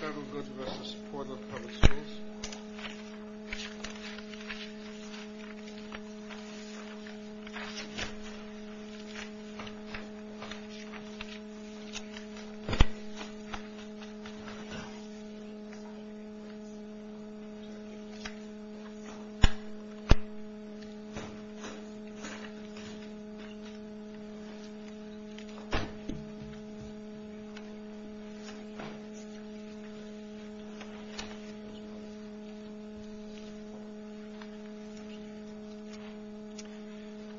Settlegoode v. Portland Public Schools Oregon Whistleblower Act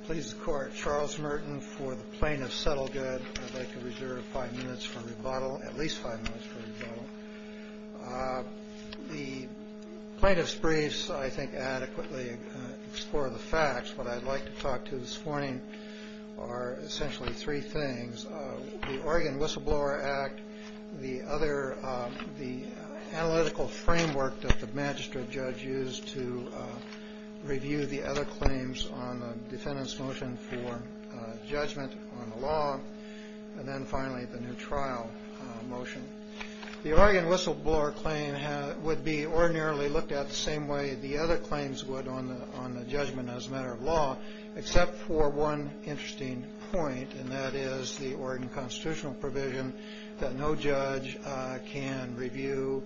Please the Court. Charles Merton for the Plaintiff's Settlegoode. I'd like to reserve five minutes for rebuttal, at least five minutes for rebuttal. The Plaintiff's Briefs I think adequately explore the facts. What I'd like to talk to this morning are essentially three things. The Oregon Whistleblower Act, the analytical framework that the magistrate judge used to review the other claims on the defendant's motion for judgment on the law, and then finally the new trial motion. The Oregon Whistleblower Claim would be ordinarily looked at the same way the other claims would on the judgment as a matter of law, except for one interesting point, and that is the Oregon constitutional provision that no judge can review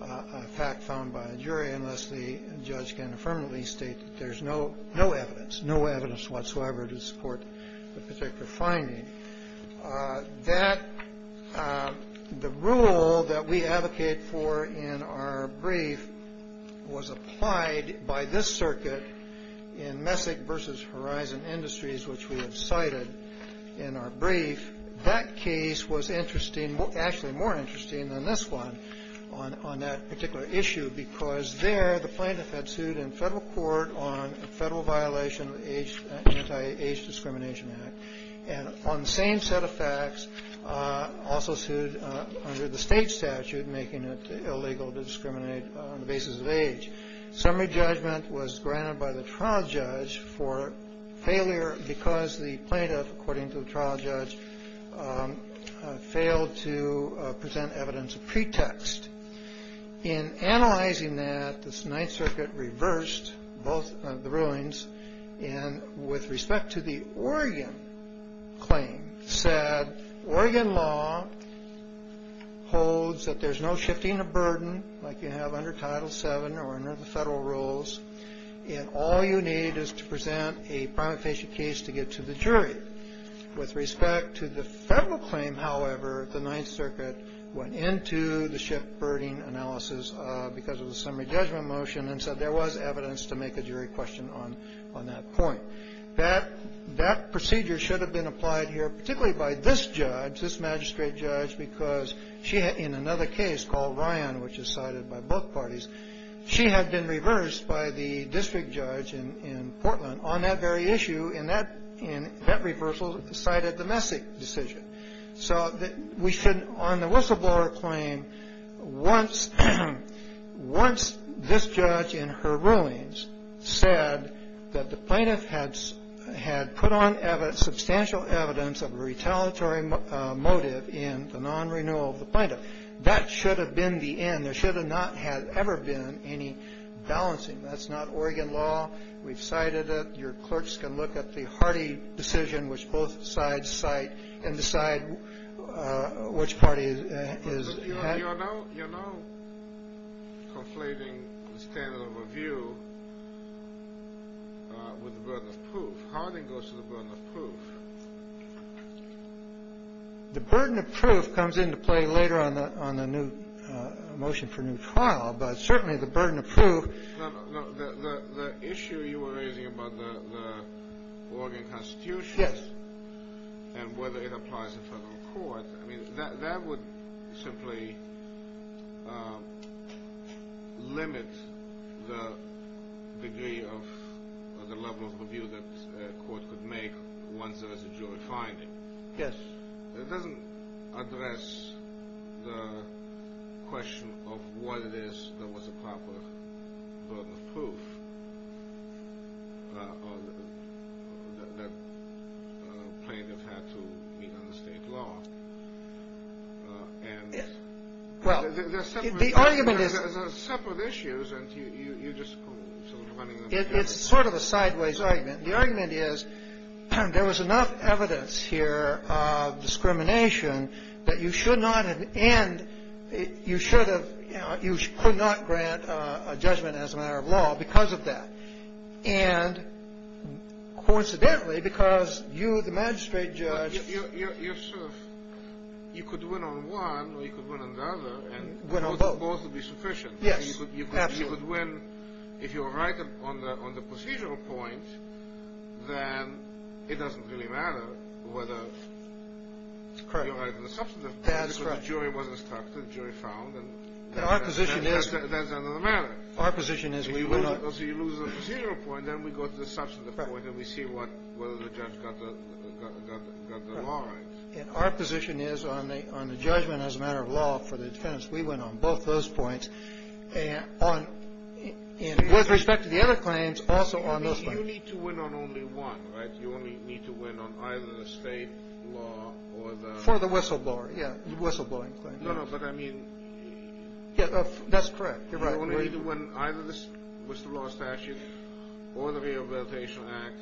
a fact found by a jury unless the judge can affirmatively state that there's no evidence, no evidence whatsoever to support the particular finding. The rule that we advocate for in our brief was applied by this circuit in Messick v. Horizon Industries, which we have cited in our brief. That case was actually more interesting than this one on that particular issue, because there the plaintiff had sued in federal court on a federal violation of the Anti-Age Discrimination Act. And on the same set of facts, also sued under the state statute, making it illegal to discriminate on the basis of age. Summary judgment was granted by the trial judge for failure because the plaintiff, according to the trial judge, failed to present evidence of pretext. In analyzing that, the Ninth Circuit reversed both of the rulings, and with respect to the Oregon claim, said Oregon law holds that there's no shifting of burden like you have under Title VII or under the federal rules, and all you need is to present a prima facie case to get to the jury. With respect to the federal claim, however, the Ninth Circuit went into the shift burden analysis because of the summary judgment motion and said there was evidence to make a jury question on that point. That procedure should have been applied here, particularly by this judge, this magistrate judge, because she had, in another case called Ryan, which is cited by both parties, she had been reversed by the district judge in Portland on that very issue, and that reversal cited the Messick decision. So we should, on the whistleblower claim, once this judge in her rulings said that the plaintiff had put on substantial evidence of a retaliatory motive in the non-renewal of the plaintiff, that should have been the end. And there should have not have ever been any balancing. That's not Oregon law. We've cited it. Your clerks can look at the Hardy decision, which both sides cite, and decide which party is at. You're now conflating the standard of review with the burden of proof. How did it go to the burden of proof? The burden of proof comes into play later on the new motion for new trial, but certainly the burden of proof. The issue you were raising about the Oregon Constitution and whether it applies in federal court, that would simply limit the degree of the level of review that a court could make once there is a jury finding. Yes. It doesn't address the question of what it is that was a proper burden of proof that plaintiff had to meet under state law. And there are separate issues, and you're just sort of running them through. It's sort of a sideways argument. The argument is there was enough evidence here of discrimination that you should not have and you should have, you could not grant a judgment as a matter of law because of that. And coincidentally, because you, the magistrate judge. You're sort of, you could win on one or you could win on the other. Win on both. Both would be sufficient. Yes, absolutely. Absolutely. You could win if you were right on the procedural point, then it doesn't really matter whether you're right on the substantive point. That's correct. The jury was instructed, jury found, and that's the end of the matter. Our position is we will not. So you lose the procedural point, then we go to the substantive point and we see whether the judge got the law right. And our position is on the judgment as a matter of law for the defense. We went on both those points. And with respect to the other claims, also on those points. You need to win on only one, right? You only need to win on either the state law or the... For the whistleblower, yeah. The whistleblowing claim. No, no, but I mean... Yeah, that's correct. You're right. You only need to win either the whistleblower statute or the Rehabilitation Act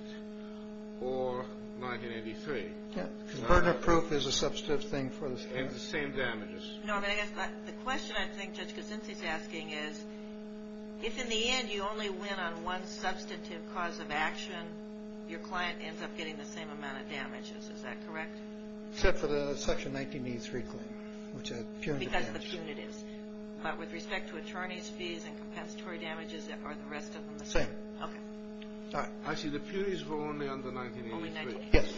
or 1983. Yeah, because burden of proof is a substantive thing for the statute. And the same damages. No, but I guess the question I think Judge Kosinski is asking is if in the end you only win on one substantive cause of action, your client ends up getting the same amount of damages. Is that correct? Except for the Section 1983 claim, which had punitive damages. Because of the punitives. But with respect to attorneys' fees and compensatory damages, are the rest of them the same? Same. All right. Actually, the punitives were only under 1983. Yes.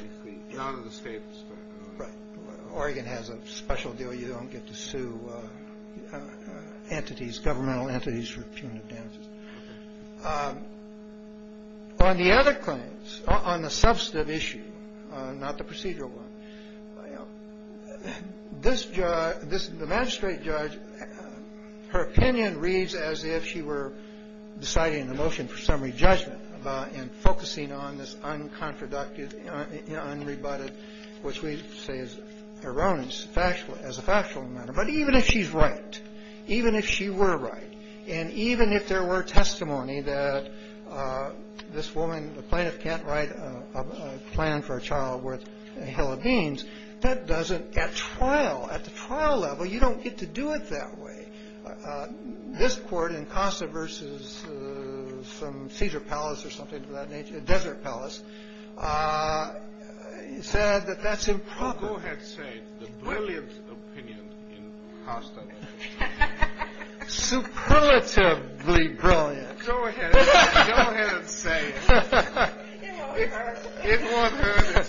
None of the states. Right. Oregon has a special deal. You don't get to sue entities, governmental entities, for punitive damages. On the other claims, on the substantive issue, not the procedural one, this judge, this magistrate judge, her opinion reads as if she were deciding the motion for summary judgment and focusing on this unconfroductive, unrebutted, which we say is erroneous as a factual matter. But even if she's right, even if she were right, and even if there were testimony that this woman, the plaintiff can't write a plan for a child worth a hell of beans, that doesn't at trial, at the trial level, you don't get to do it that way. This court in Costa versus some Caesar Palace or something of that nature, Desert Palace, said that that's improper. Go ahead and say it. The brilliant opinion in Costa. Superlatively brilliant. Go ahead. Go ahead and say it. It won't hurt. It won't hurt.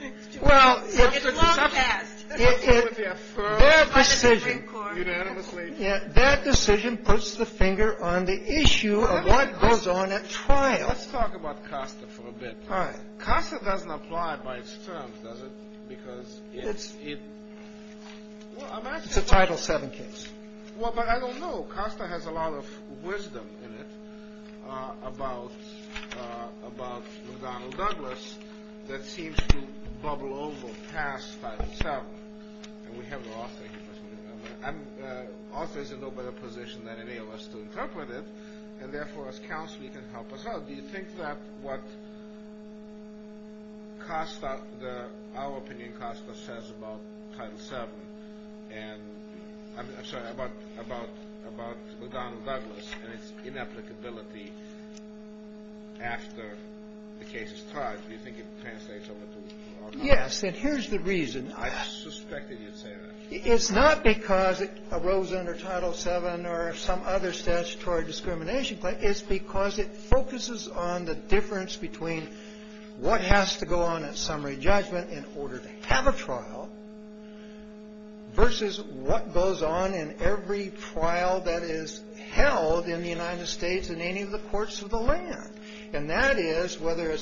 It's too long past. Their decision puts the finger on the issue of what goes on at trial. Let's talk about Costa for a bit. Costa doesn't apply by its terms, does it? Because it's a Title VII case. Well, but I don't know. Costa has a lot of wisdom in it about McDonnell Douglas that seems to bubble over past Title VII. And we have an author here, if I remember. The author is in no better position than any of us to interpret it, and, therefore, as counsel, he can help us out. Do you think that what our opinion in Costa says about McDonnell Douglas and its inapplicability after the case is tried, do you think it translates over to our counsel? Yes. And here's the reason. I suspected you'd say that. It's not because it arose under Title VII or some other statutory discrimination claim. It's because it focuses on the difference between what has to go on at summary judgment in order to have a trial versus what goes on in every trial that is held in the United States in any of the courts of the land. And that is whether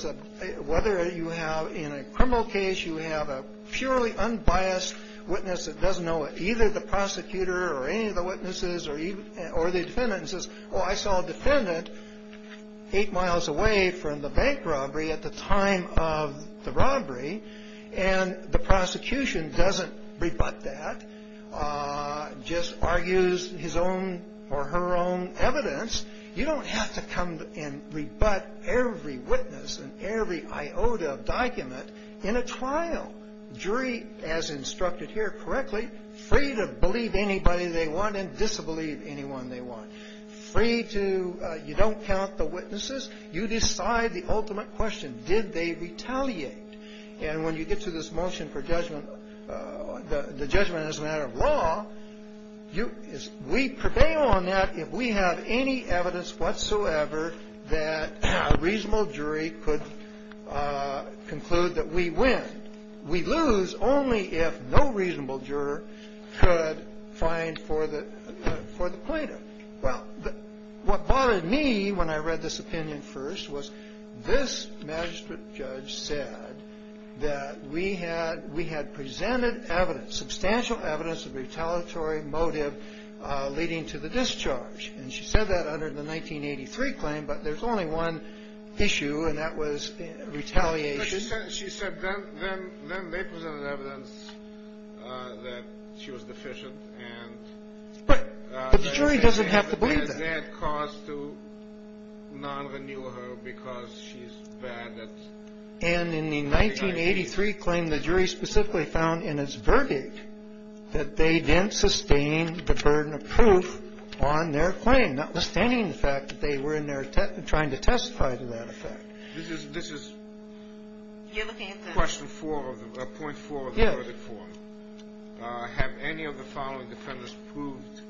you have in a criminal case you have a purely unbiased witness that doesn't know either the prosecutor or any of the witnesses or the defendant and says, oh, I saw a defendant eight miles away from the bank robbery at the time of the robbery, and the prosecution doesn't rebut that, just argues his own or her own evidence. You don't have to come and rebut every witness and every iota of document in a trial. Jury, as instructed here correctly, free to believe anybody they want and disbelieve anyone they want. Free to you don't count the witnesses. You decide the ultimate question. Did they retaliate? And when you get to this motion for judgment, the judgment is a matter of law. We prevail on that if we have any evidence whatsoever that a reasonable jury could conclude that we win. We lose only if no reasonable juror could find for the plaintiff. Well, what bothered me when I read this opinion first was this magistrate judge said that we had presented evidence, substantial evidence of retaliatory motive leading to the discharge. And she said that under the 1983 claim, but there's only one issue, and that was retaliation. She said then they presented evidence that she was deficient. But the jury doesn't have to believe that. And in the 1983 claim, the jury specifically found in its verdict that they didn't sustain the burden of proof on their claim, notwithstanding the fact that they were in there trying to testify to that effect. This is question four, point four of the verdict form. Have any of the following defendants proved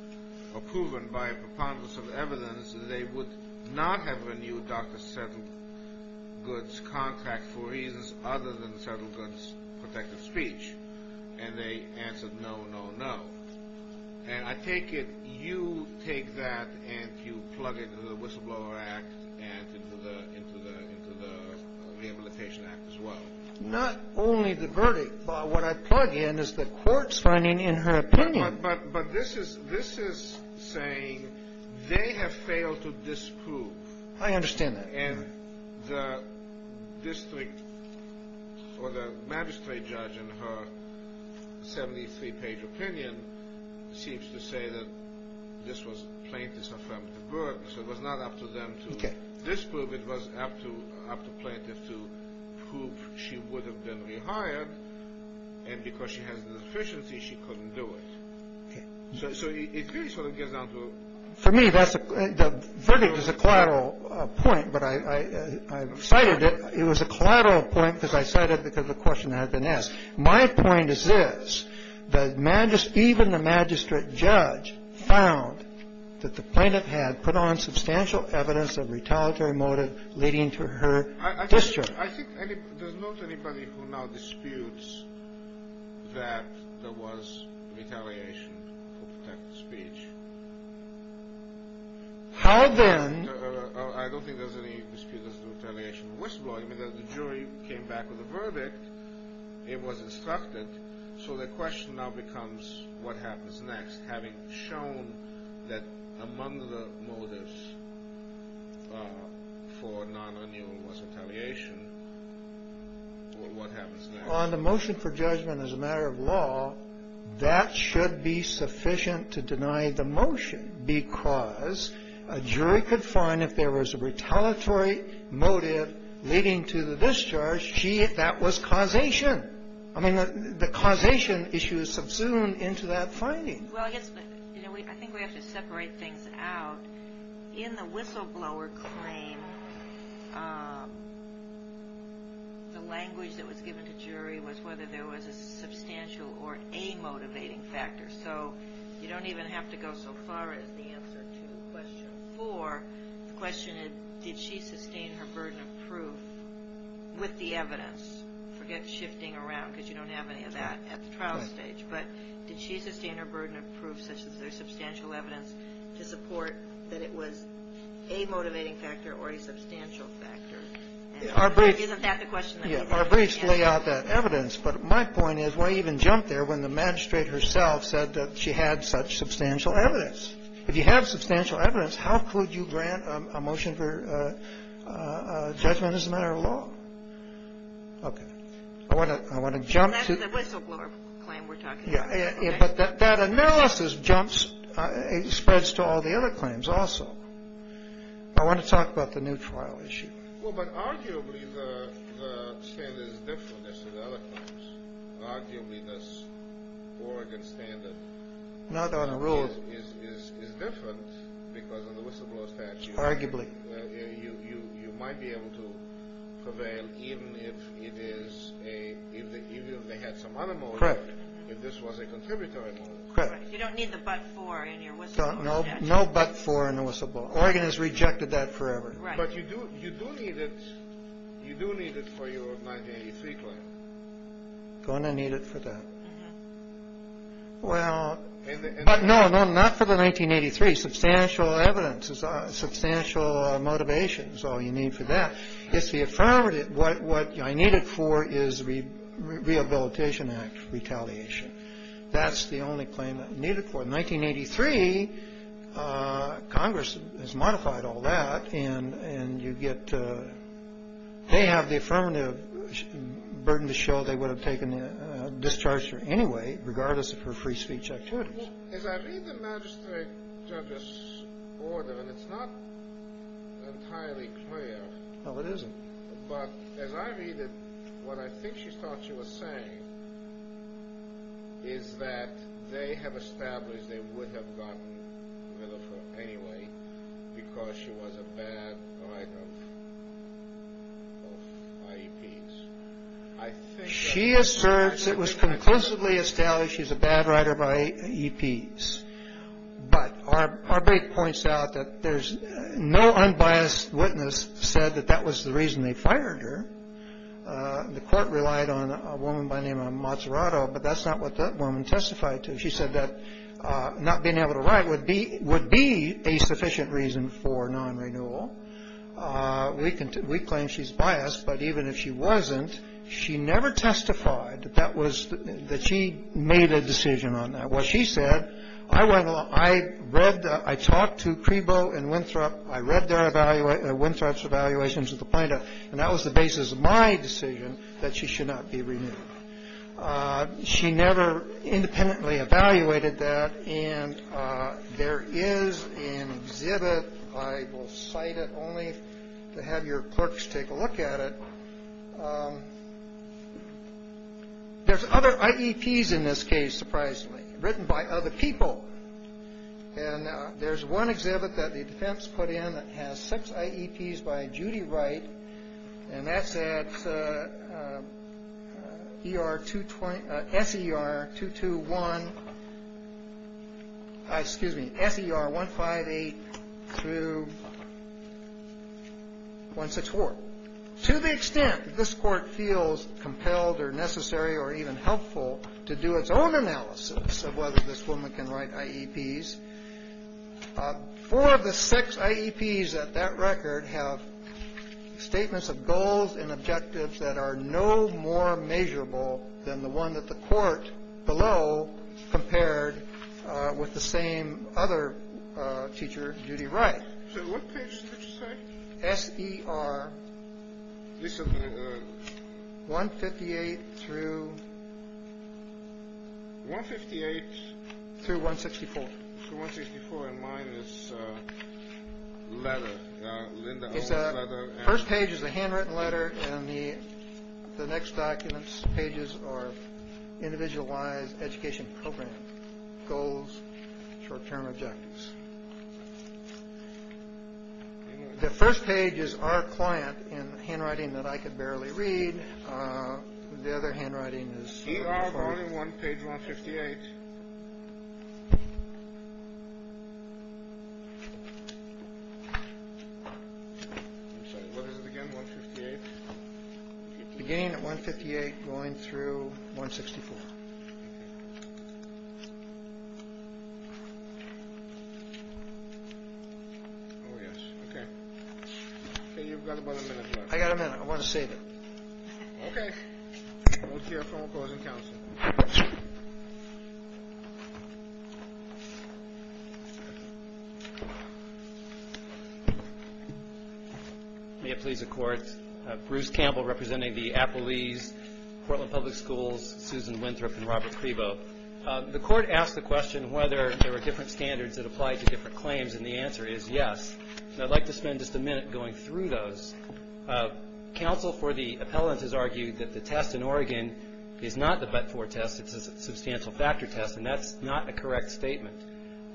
or proven by a preponderance of evidence that they would not have renewed Dr. Settlegood's contract for reasons other than Settlegood's protective speech? And they answered no, no, no. And I take it you take that and you plug it into the Whistleblower Act and into the Rehabilitation Act as well. Not only the verdict, but what I plug in is the court's finding in her opinion. But this is saying they have failed to disprove. I understand that. And the district or the magistrate judge in her 73-page opinion seems to say that this was plaintiff's affirmative word. So it was not up to them to disprove. It was up to plaintiff to prove she would have been rehired. And because she has a deficiency, she couldn't do it. So it really sort of gets down to a... For me, the verdict is a collateral point, but I cited it. It was a collateral point because I cited it because the question had been asked. My point is this. Even the magistrate judge found that the plaintiff had put on substantial evidence of retaliatory motive leading to her discharge. I think there's not anybody who now disputes that there was retaliation for protected speech. How then? I don't think there's any dispute as to retaliation for whistleblowing. I mean, the jury came back with a verdict. It was instructed. So the question now becomes what happens next, having shown that among the motives for non-annual was retaliation, or what happens next? On the motion for judgment as a matter of law, that should be sufficient to deny the motion because a jury could find if there was a retaliatory motive leading to the discharge, that was causation. I mean, the causation issue is subsumed into that finding. Well, I think we have to separate things out. In the whistleblower claim, the language that was given to jury was whether there was a substantial or a motivating factor. So you don't even have to go so far as the answer to question four. The question is, did she sustain her burden of proof with the evidence? Forget shifting around because you don't have any of that at the trial stage. But did she sustain her burden of proof, such as there's substantial evidence, to support that it was a motivating factor or a substantial factor? Isn't that the question? Our briefs lay out that evidence. But my point is why even jump there when the magistrate herself said that she had such substantial evidence? If you have substantial evidence, how could you grant a motion for judgment as a matter of law? Okay. That's the whistleblower claim we're talking about. But that analysis spreads to all the other claims also. I want to talk about the new trial issue. Well, but arguably the standard is different as to the other claims. Arguably this Oregon standard is different because of the whistleblower statute. Arguably. You might be able to prevail even if they had some other motive. Correct. If this was a contributory motive. Correct. You don't need the but for in your whistleblower statute. No but for in the whistleblower. Oregon has rejected that forever. Right. But you do need it for your 1983 claim. Going to need it for that. Well, no, no, no. Not for the 1983 substantial evidence is substantial motivation. So you need for that. It's the affirmative. What what I needed for is the Rehabilitation Act retaliation. That's the only claim that needed for 1983. Congress has modified all that. And you get. They have the affirmative burden to show they would have taken a discharge anyway. Regardless of her free speech. As I read the magistrate judge's order. And it's not entirely clear. No, it isn't. But as I read it, what I think she thought she was saying. Is that they have established they would have gotten rid of her anyway. Because she was a bad writer of IEPs. She asserts it was conclusively established she's a bad writer of IEPs. But our break points out that there's no unbiased witness said that that was the reason they fired her. The court relied on a woman by the name of Mazzarato. But that's not what that woman testified to. She said that not being able to write would be would be a sufficient reason for non-renewal. We can we claim she's biased. But even if she wasn't, she never testified that that was that she made a decision on that. Well, she said, I went along. I read. I talked to Creebo and Winthrop. I read their evaluate Winthrop's evaluations of the plaintiff. And that was the basis of my decision that she should not be renewed. She never independently evaluated that. And there is an exhibit. I will cite it only to have your clerks take a look at it. There's other IEPs in this case, surprisingly, written by other people. And there's one exhibit that the defense put in that has six IEPs by Judy Wright. And that's at E.R. 220. S.E.R. 221. Excuse me. S.E.R. 158 through 164. To the extent this court feels compelled or necessary or even helpful to do its own analysis of whether this woman can write IEPs. Four of the six IEPs at that record have statements of goals and objectives that are no more measurable than the one that the court below compared with the same other teacher, Judy Wright. So what page did you say? S.E.R. 158 through. 158. Through 164. Through 164. And mine is letter. Linda Owens' letter. First page is a handwritten letter. And the next document's pages are individualized education program goals, short-term objectives. The first page is our client in handwriting that I could barely read. The other handwriting is. E.R. going to page 158. I'm sorry, what is it again, 158? Beginning at 158, going through 164. Oh, yes, okay. Okay, you've got about a minute left. I've got a minute. I want to save it. Okay. We'll hear from opposing counsel. May it please the court. Bruce Campbell representing the Appalese, Portland Public Schools, Susan Winthrop and Robert Clevo. The court asked the question whether there were different standards that applied to different claims, and the answer is yes. And I'd like to spend just a minute going through those. Counsel for the appellant has argued that the test in Oregon is not the but-for test. It's a substantial factor test, and that's not a correct statement.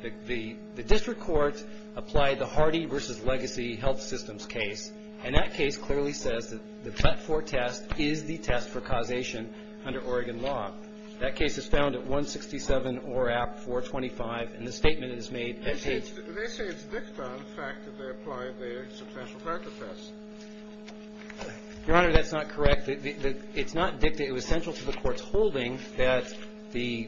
The district court applied the Hardy v. Legacy Health Systems case, and that case clearly says that the but-for test is the test for causation under Oregon law. That case is found at 167 ORAP 425, and the statement is made at page. They say it's dicta on the fact that they applied the substantial factor test. Your Honor, that's not correct. It's not dicta. It was central to the court's holding that the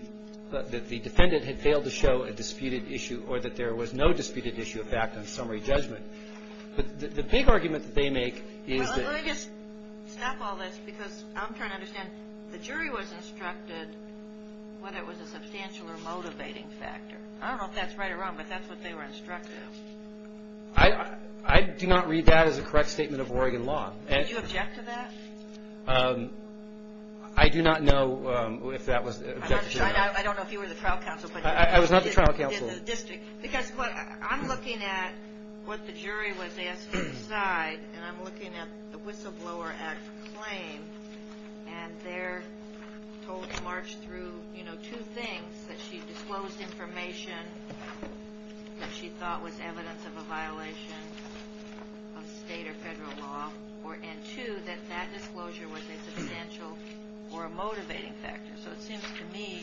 defendant had failed to show a disputed issue or that there was no disputed issue of fact on summary judgment. But the big argument that they make is that the jury was instructed whether it was a substantial or motivating factor. I don't know if that's right or wrong, but that's what they were instructed. I do not read that as a correct statement of Oregon law. Did you object to that? I do not know if that was the objection. I don't know if you were the trial counsel. I was not the trial counsel. Because I'm looking at what the jury was asked to decide, and I'm looking at the whistleblower at claim, and they're told to march through two things, that she disclosed information that she thought was evidence of a violation of state or federal law, and two, that that disclosure was a substantial or a motivating factor. So it seems to me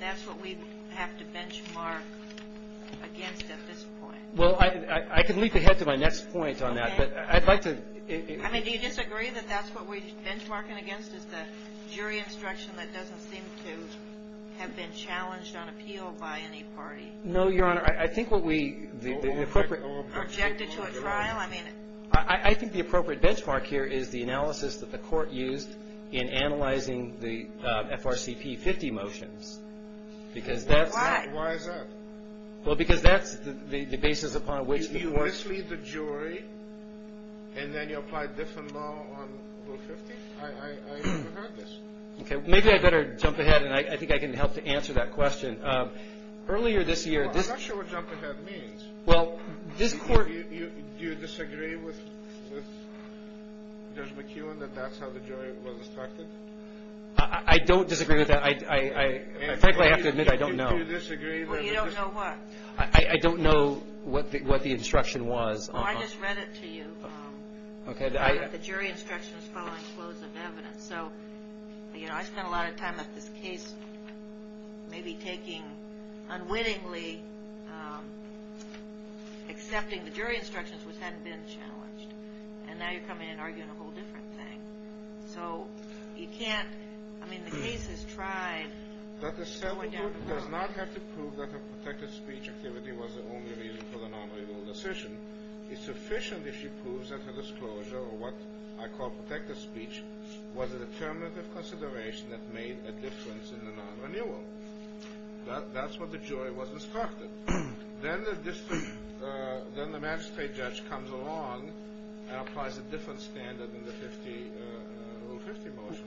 that's what we have to benchmark against at this point. Well, I can leap ahead to my next point on that. Okay. I mean, do you disagree that that's what we're benchmarking against is the jury instruction that doesn't seem to have been challenged on appeal by any party? No, Your Honor. I think what we – the appropriate – Objected to at trial? I mean – I think the appropriate benchmark here is the analysis that the court used in analyzing the FRCP 50 motions. Why? Why is that? Well, because that's the basis upon which the – So this leaves the jury, and then you apply different law on Rule 50? I haven't heard this. Okay. Maybe I'd better jump ahead, and I think I can help to answer that question. Earlier this year – Well, I'm not sure what jump ahead means. Well, this court – Do you disagree with Judge McEwen that that's how the jury was instructed? I don't disagree with that. Frankly, I have to admit I don't know. Do you disagree with – Well, you don't know what? I don't know what the instruction was. Well, I just read it to you. Okay. The jury instruction is following flows of evidence. So, you know, I spent a lot of time at this case maybe taking unwittingly – accepting the jury instructions, which hadn't been challenged. And now you're coming in and arguing a whole different thing. So you can't – I mean, the case has tried – But the settlement does not have to prove that her protected speech activity was the only reason for the non-renewal decision. It's sufficient if she proves that her disclosure, or what I call protected speech, was a determinative consideration that made a difference in the non-renewal. That's what the jury was instructed. Then the magistrate judge comes along and applies a different standard than the Rule 50 motion.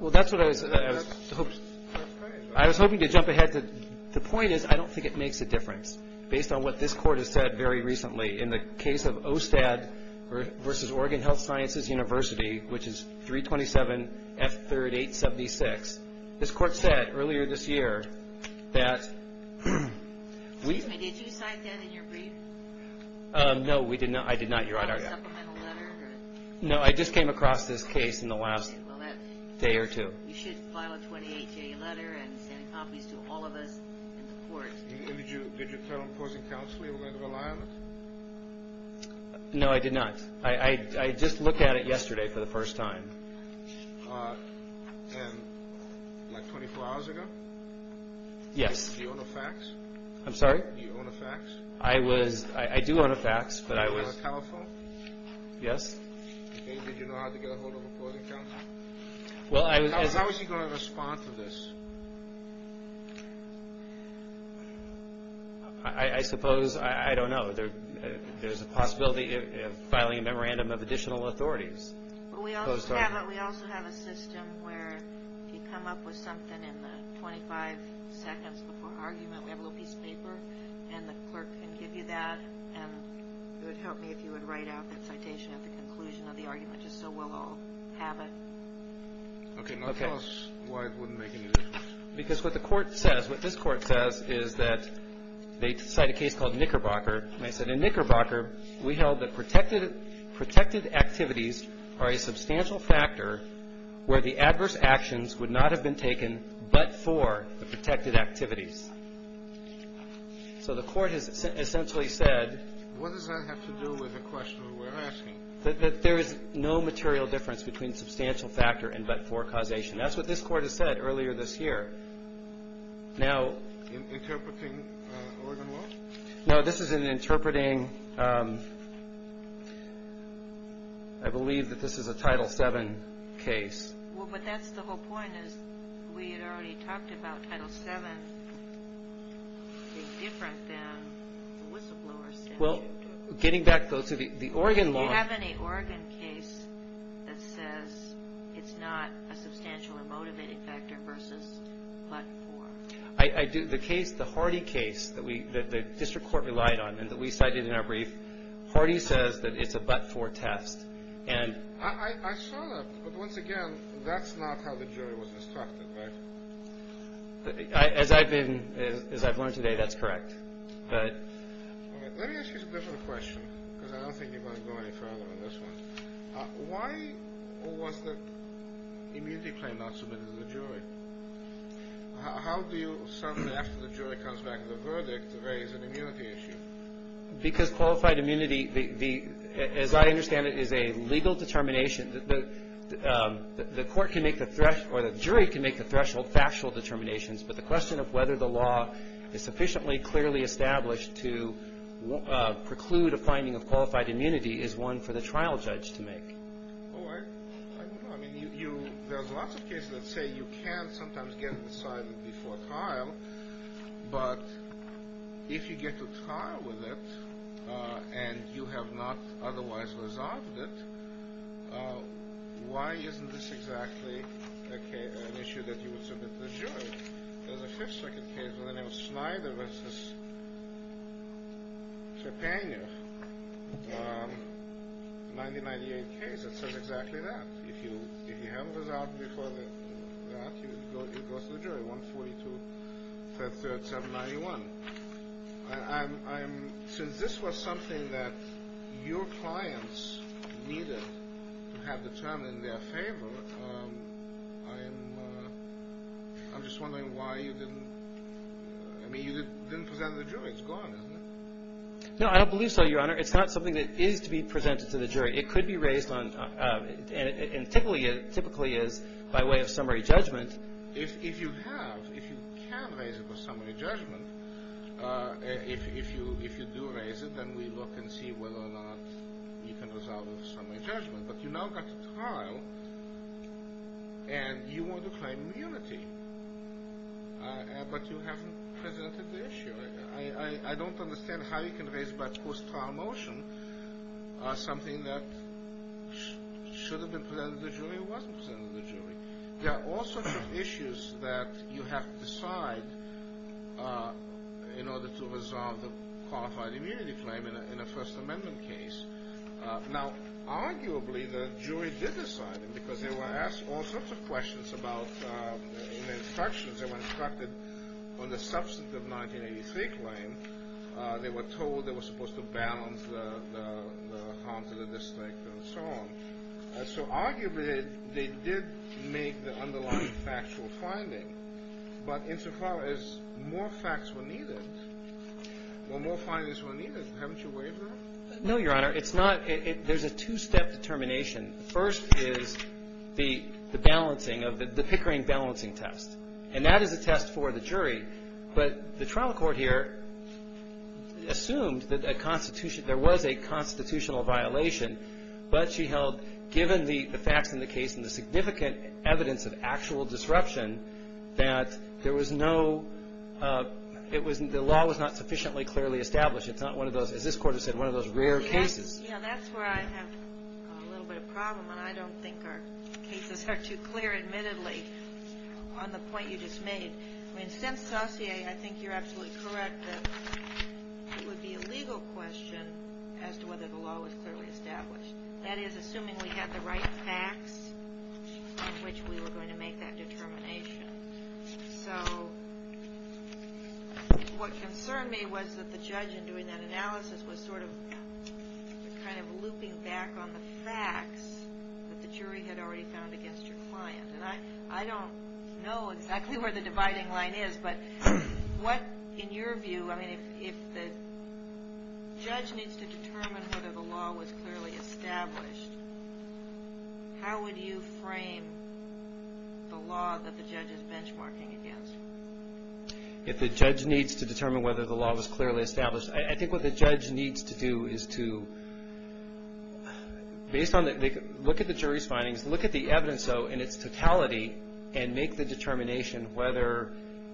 Well, that's what I was – I was hoping to jump ahead. The point is I don't think it makes a difference. Based on what this court has said very recently in the case of OSTAD versus Oregon Health Sciences University, which is 327 F3rd 876, this court said earlier this year that we – Excuse me. Did you sign that in your brief? No, we did not. I did not, Your Honor. No supplemental letter? No, I just came across this case in the last day or two. You should file a 28-day letter and send copies to all of us in the court. Did you tell opposing counsel you were going to rely on it? No, I did not. I just looked at it yesterday for the first time. And like 24 hours ago? Yes. Do you own a fax? I'm sorry? Do you own a fax? I was – I do own a fax, but I was – Do you have a telephone? Yes. Did you know how to get a hold of opposing counsel? How is he going to respond to this? I suppose – I don't know. There's a possibility of filing a memorandum of additional authorities. We also have a system where if you come up with something in the 25 seconds before argument, we have a little piece of paper, and the clerk can give you that, and it would help me if you would write out that citation at the conclusion of the argument just so we'll all have it. Okay. Now tell us why it wouldn't make any difference. Because what the court says – what this court says is that they cite a case called Knickerbocker, and they said, In Knickerbocker, we held that protected activities are a substantial factor where the adverse actions would not have been taken but for the protected activities. So the court has essentially said – What does that have to do with the question we're asking? That there is no material difference between substantial factor and but-for causation. That's what this court has said earlier this year. Now – Interpreting Oregon law? No, this is an interpreting – I believe that this is a Title VII case. Well, but that's the whole point, is we had already talked about Title VII being different than whistleblowers. Well, getting back, though, to the Oregon law – Do you have any Oregon case that says it's not a substantial or motivated factor versus but-for? I do. The case – the Hardy case that the district court relied on and that we cited in our brief, Hardy says that it's a but-for test, and – I saw that, but once again, that's not how the jury was instructed, right? As I've been – as I've learned today, that's correct. Let me ask you a different question, because I don't think you want to go any further on this one. Why was the immunity claim not submitted to the jury? How do you, after the jury comes back with a verdict, raise an immunity issue? Because qualified immunity, as I understand it, is a legal determination – the court can make the – or the jury can make the threshold factual determinations, but the question of whether the law is sufficiently clearly established to preclude a finding of qualified immunity is one for the trial judge to make. Oh, I don't know. I mean, you – there's lots of cases that say you can sometimes get it decided before trial, but if you get to trial with it and you have not otherwise resolved it, why isn't this exactly an issue that you would submit to the jury? There's a fifth circuit case with a name of Snyder v. Trepanier, a 1998 case that says exactly that. If you haven't resolved it before that, you go to the jury, 142, 3rd, 791. I'm – since this was something that your clients needed to have determined in their favor, I'm just wondering why you didn't – I mean, you didn't present it to the jury. It's gone, isn't it? No, I don't believe so, Your Honor. It's not something that is to be presented to the jury. It could be raised on – and typically is by way of summary judgment. If you have, if you can raise it with summary judgment, if you do raise it, then we look and see whether or not you can resolve it with summary judgment. But you now got to trial and you want to claim immunity, but you haven't presented the issue. I don't understand how you can raise by post-trial motion something that should have been presented to the jury or wasn't presented to the jury. There are all sorts of issues that you have to decide in order to resolve the qualified immunity claim in a First Amendment case. Now, arguably, the jury did decide it because they were asked all sorts of questions about instructions. They were instructed on the substantive 1983 claim. They were told they were supposed to balance the harm to the district and so on. So arguably, they did make the underlying factual finding. But insofar as more facts were needed, well, more findings were needed. Haven't you waived that? No, Your Honor. It's not – there's a two-step determination. First is the balancing of the Pickering balancing test. And that is a test for the jury. But the trial court here assumed that a constitution – there was a constitutional violation, but she held, given the facts in the case and the significant evidence of actual disruption, that there was no – it was – the law was not sufficiently clearly established. It's not one of those – as this Court has said, one of those rare cases. Yeah, that's where I have a little bit of problem, and I don't think our cases are too clear, admittedly, on the point you just made. I mean, since Saussure, I think you're absolutely correct that it would be a legal question as to whether the law was clearly established. That is, assuming we had the right facts in which we were going to make that determination. So what concerned me was that the judge, in doing that analysis, was sort of kind of looping back on the facts that the jury had already found against your client. And I don't know exactly where the dividing line is, but what, in your view – I mean, if the judge needs to determine whether the law was clearly established, how would you frame the law that the judge is benchmarking against? If the judge needs to determine whether the law was clearly established, I think what the judge needs to do is to – based on the – look at the jury's findings, look at the evidence in its totality, and make the determination whether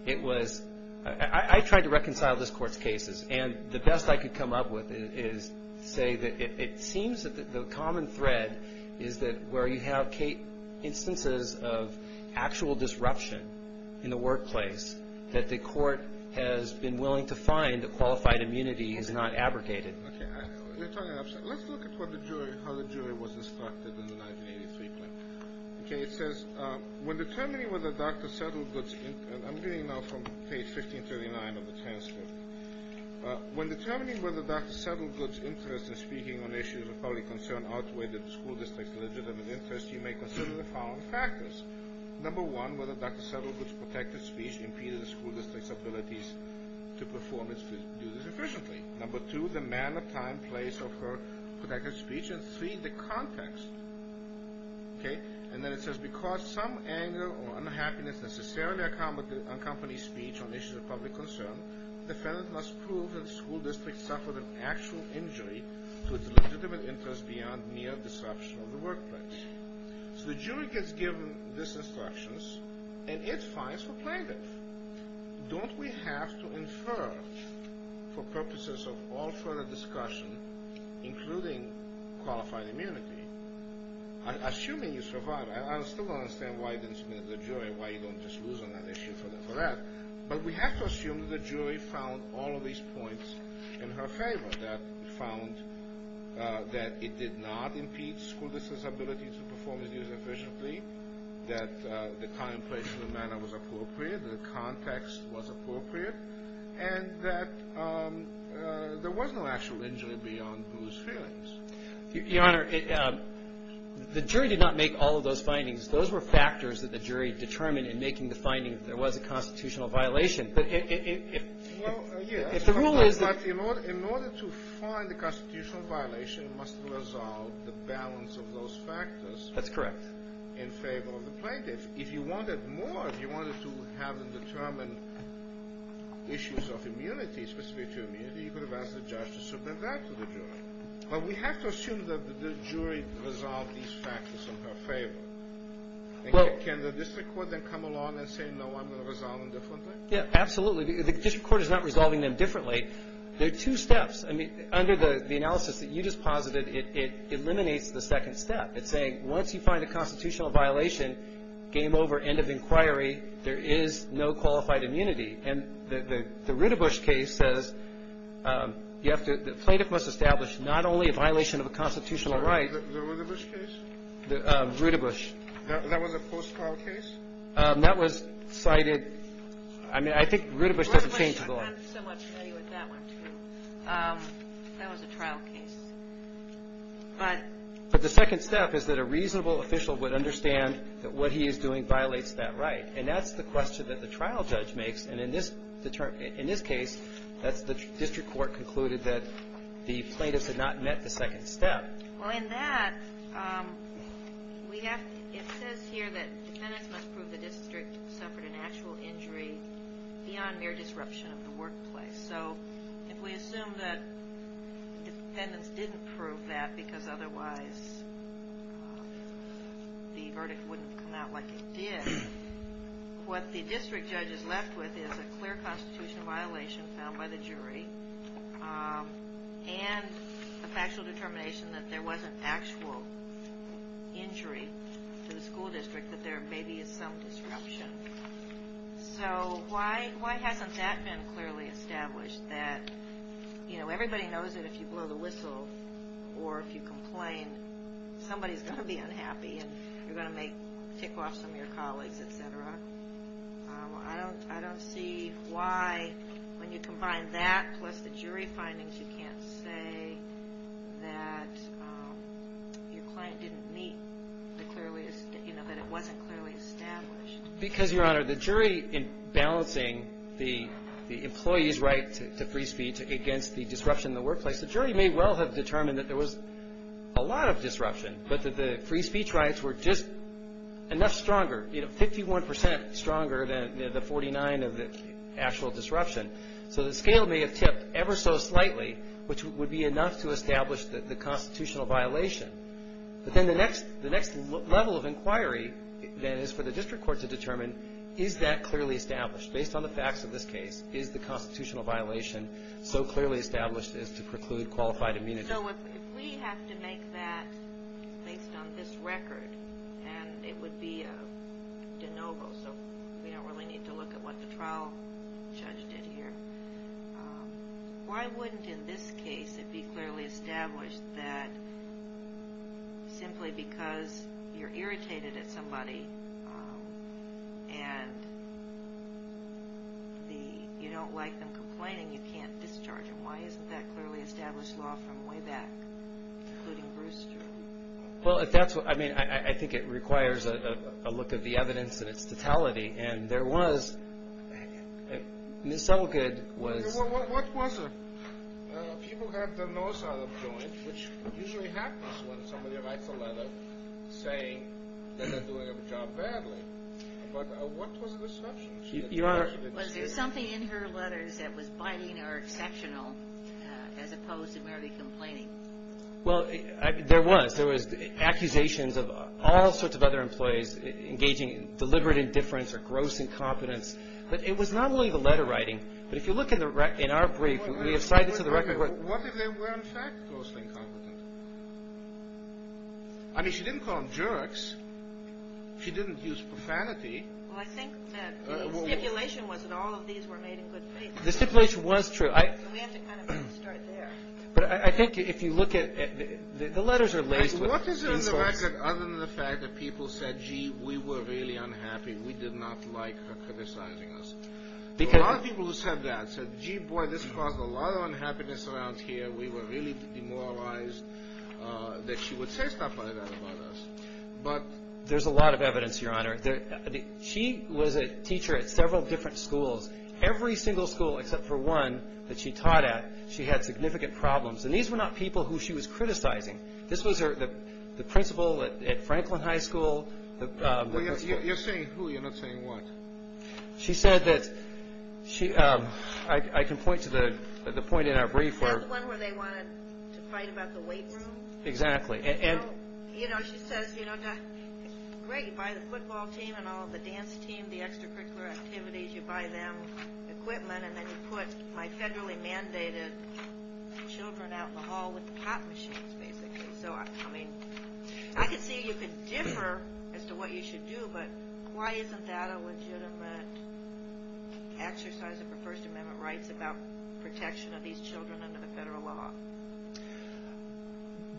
it was – I tried to reconcile this Court's cases. And the best I could come up with is say that it seems that the common thread is that where you have instances of actual disruption in the workplace, that the Court has been willing to find that qualified immunity is not abrogated. Okay. Let's look at what the jury – how the jury was instructed in the 1983 claim. Okay. It says, when determining whether Dr. Settlegood's – and I'm reading now from page 1539 of the transcript. When determining whether Dr. Settlegood's interest in speaking on issues of public concern outweighed the school district's legitimate interest, you may consider the following factors. Number one, whether Dr. Settlegood's protected speech impeded the school district's abilities to perform its duties efficiently. Number two, the manner, time, place of her protected speech. And three, the context. Okay. And then it says, because some anger or unhappiness necessarily accompanies speech on issues of public concern, the defendant must prove that the school district suffered an actual injury to its legitimate interest beyond mere disruption of the workplace. So the jury gets given these instructions, and it finds for plaintiff. Don't we have to infer, for purposes of all further discussion, including qualified immunity, assuming you survive – I still don't understand why you didn't submit it to the jury, why you don't just lose on that issue for that – but we have to assume that the jury found all of these points in her favor, that found that it did not impede school district's ability to perform its duties efficiently, that the time, place, and the manner was appropriate, the context was appropriate, and that there was no actual injury beyond Bruce's feelings. Your Honor, the jury did not make all of those findings. Those were factors that the jury determined in making the finding that there was a constitutional violation. But if the rule is – Well, yes, but in order to find the constitutional violation, it must resolve the balance of those factors. That's correct. In favor of the plaintiff. If you wanted more, if you wanted to have them determine issues of immunity, specific to immunity, you could have asked the judge to submit that to the jury. But we have to assume that the jury resolved these factors in her favor. Can the district court then come along and say, no, I'm going to resolve them differently? Yeah, absolutely. The district court is not resolving them differently. There are two steps. I mean, under the analysis that you just posited, it eliminates the second step. It's saying once you find a constitutional violation, game over, end of inquiry, there is no qualified immunity. And the Rudabush case says you have to – the plaintiff must establish not only a violation of a constitutional right. The Rudabush case? Rudabush. That was a post-trial case? That was cited – I mean, I think Rudabush doesn't change the law. Rudabush, I'm somewhat familiar with that one, too. That was a trial case. But the second step is that a reasonable official would understand that what he is doing violates that right. And that's the question that the trial judge makes. And in this case, the district court concluded that the plaintiffs had not met the second step. Well, in that, it says here that defendants must prove the district suffered an actual injury beyond mere disruption of the workplace. So if we assume that defendants didn't prove that because otherwise the verdict wouldn't come out like it did, what the district judge is left with is a clear constitutional violation found by the jury and a factual determination that there was an actual injury to the school district, that there may be some disruption. So why hasn't that been clearly established, that everybody knows that if you blow the whistle or if you complain, somebody's going to be unhappy and you're going to tick off some of your colleagues, etc.? I don't see why, when you combine that plus the jury findings, you can't say that your client didn't meet the clearly – that it wasn't clearly established. Because, Your Honor, the jury in balancing the employee's right to free speech against the disruption in the workplace, the jury may well have determined that there was a lot of disruption, but that the free speech rights were just enough stronger, you know, 51 percent stronger than the 49 of the actual disruption. So the scale may have tipped ever so slightly, which would be enough to establish the constitutional violation. But then the next level of inquiry, then, is for the district court to determine, is that clearly established based on the facts of this case? Is the constitutional violation so clearly established as to preclude qualified immunity? So if we have to make that based on this record, and it would be a de novo, so we don't really need to look at what the trial judge did here, why wouldn't, in this case, it be clearly established that simply because you're irritated at somebody and you don't like them complaining, you can't discharge them? Why isn't that clearly established law from way back, including Bruce Jarrell? Well, I mean, I think it requires a look at the evidence and its totality. And there was – Ms. Suttlegood was – What was it? People had their nose out of joint, which usually happens when somebody writes a letter saying that they're doing a job badly. But what was the disruption? Your Honor – Was there something in her letters that was biting or exceptional as opposed to merely complaining? Well, there was. There was accusations of all sorts of other employees engaging in deliberate indifference or gross incompetence. But it was not only the letter writing. But if you look in our brief, we have cited to the record – What if they were, in fact, grossly incompetent? I mean, she didn't call them jerks. She didn't use profanity. Well, I think that the stipulation was that all of these were made in good faith. The stipulation was true. We have to kind of start there. But I think if you look at – the letters are laced with insults. What is in the record other than the fact that people said, gee, we were really unhappy, we did not like her criticizing us? Because – A lot of people who said that said, gee, boy, this caused a lot of unhappiness around here. We were really demoralized that she would say stuff like that about us. But – There's a lot of evidence, Your Honor. She was a teacher at several different schools. Every single school except for one that she taught at, she had significant problems. And these were not people who she was criticizing. This was the principal at Franklin High School. You're saying who. You're not saying what. She said that – I can point to the point in our brief where – The one where they wanted to fight about the weight room? Exactly. You know, she says, you know, great, you buy the football team and all, the dance team, the extracurricular activities, you buy them equipment and then you put my federally mandated children out in the hall with the pot machines, basically. So, I mean, I could see you could differ as to what you should do, but why isn't that a legitimate exercise of the First Amendment rights about protection of these children under the federal law?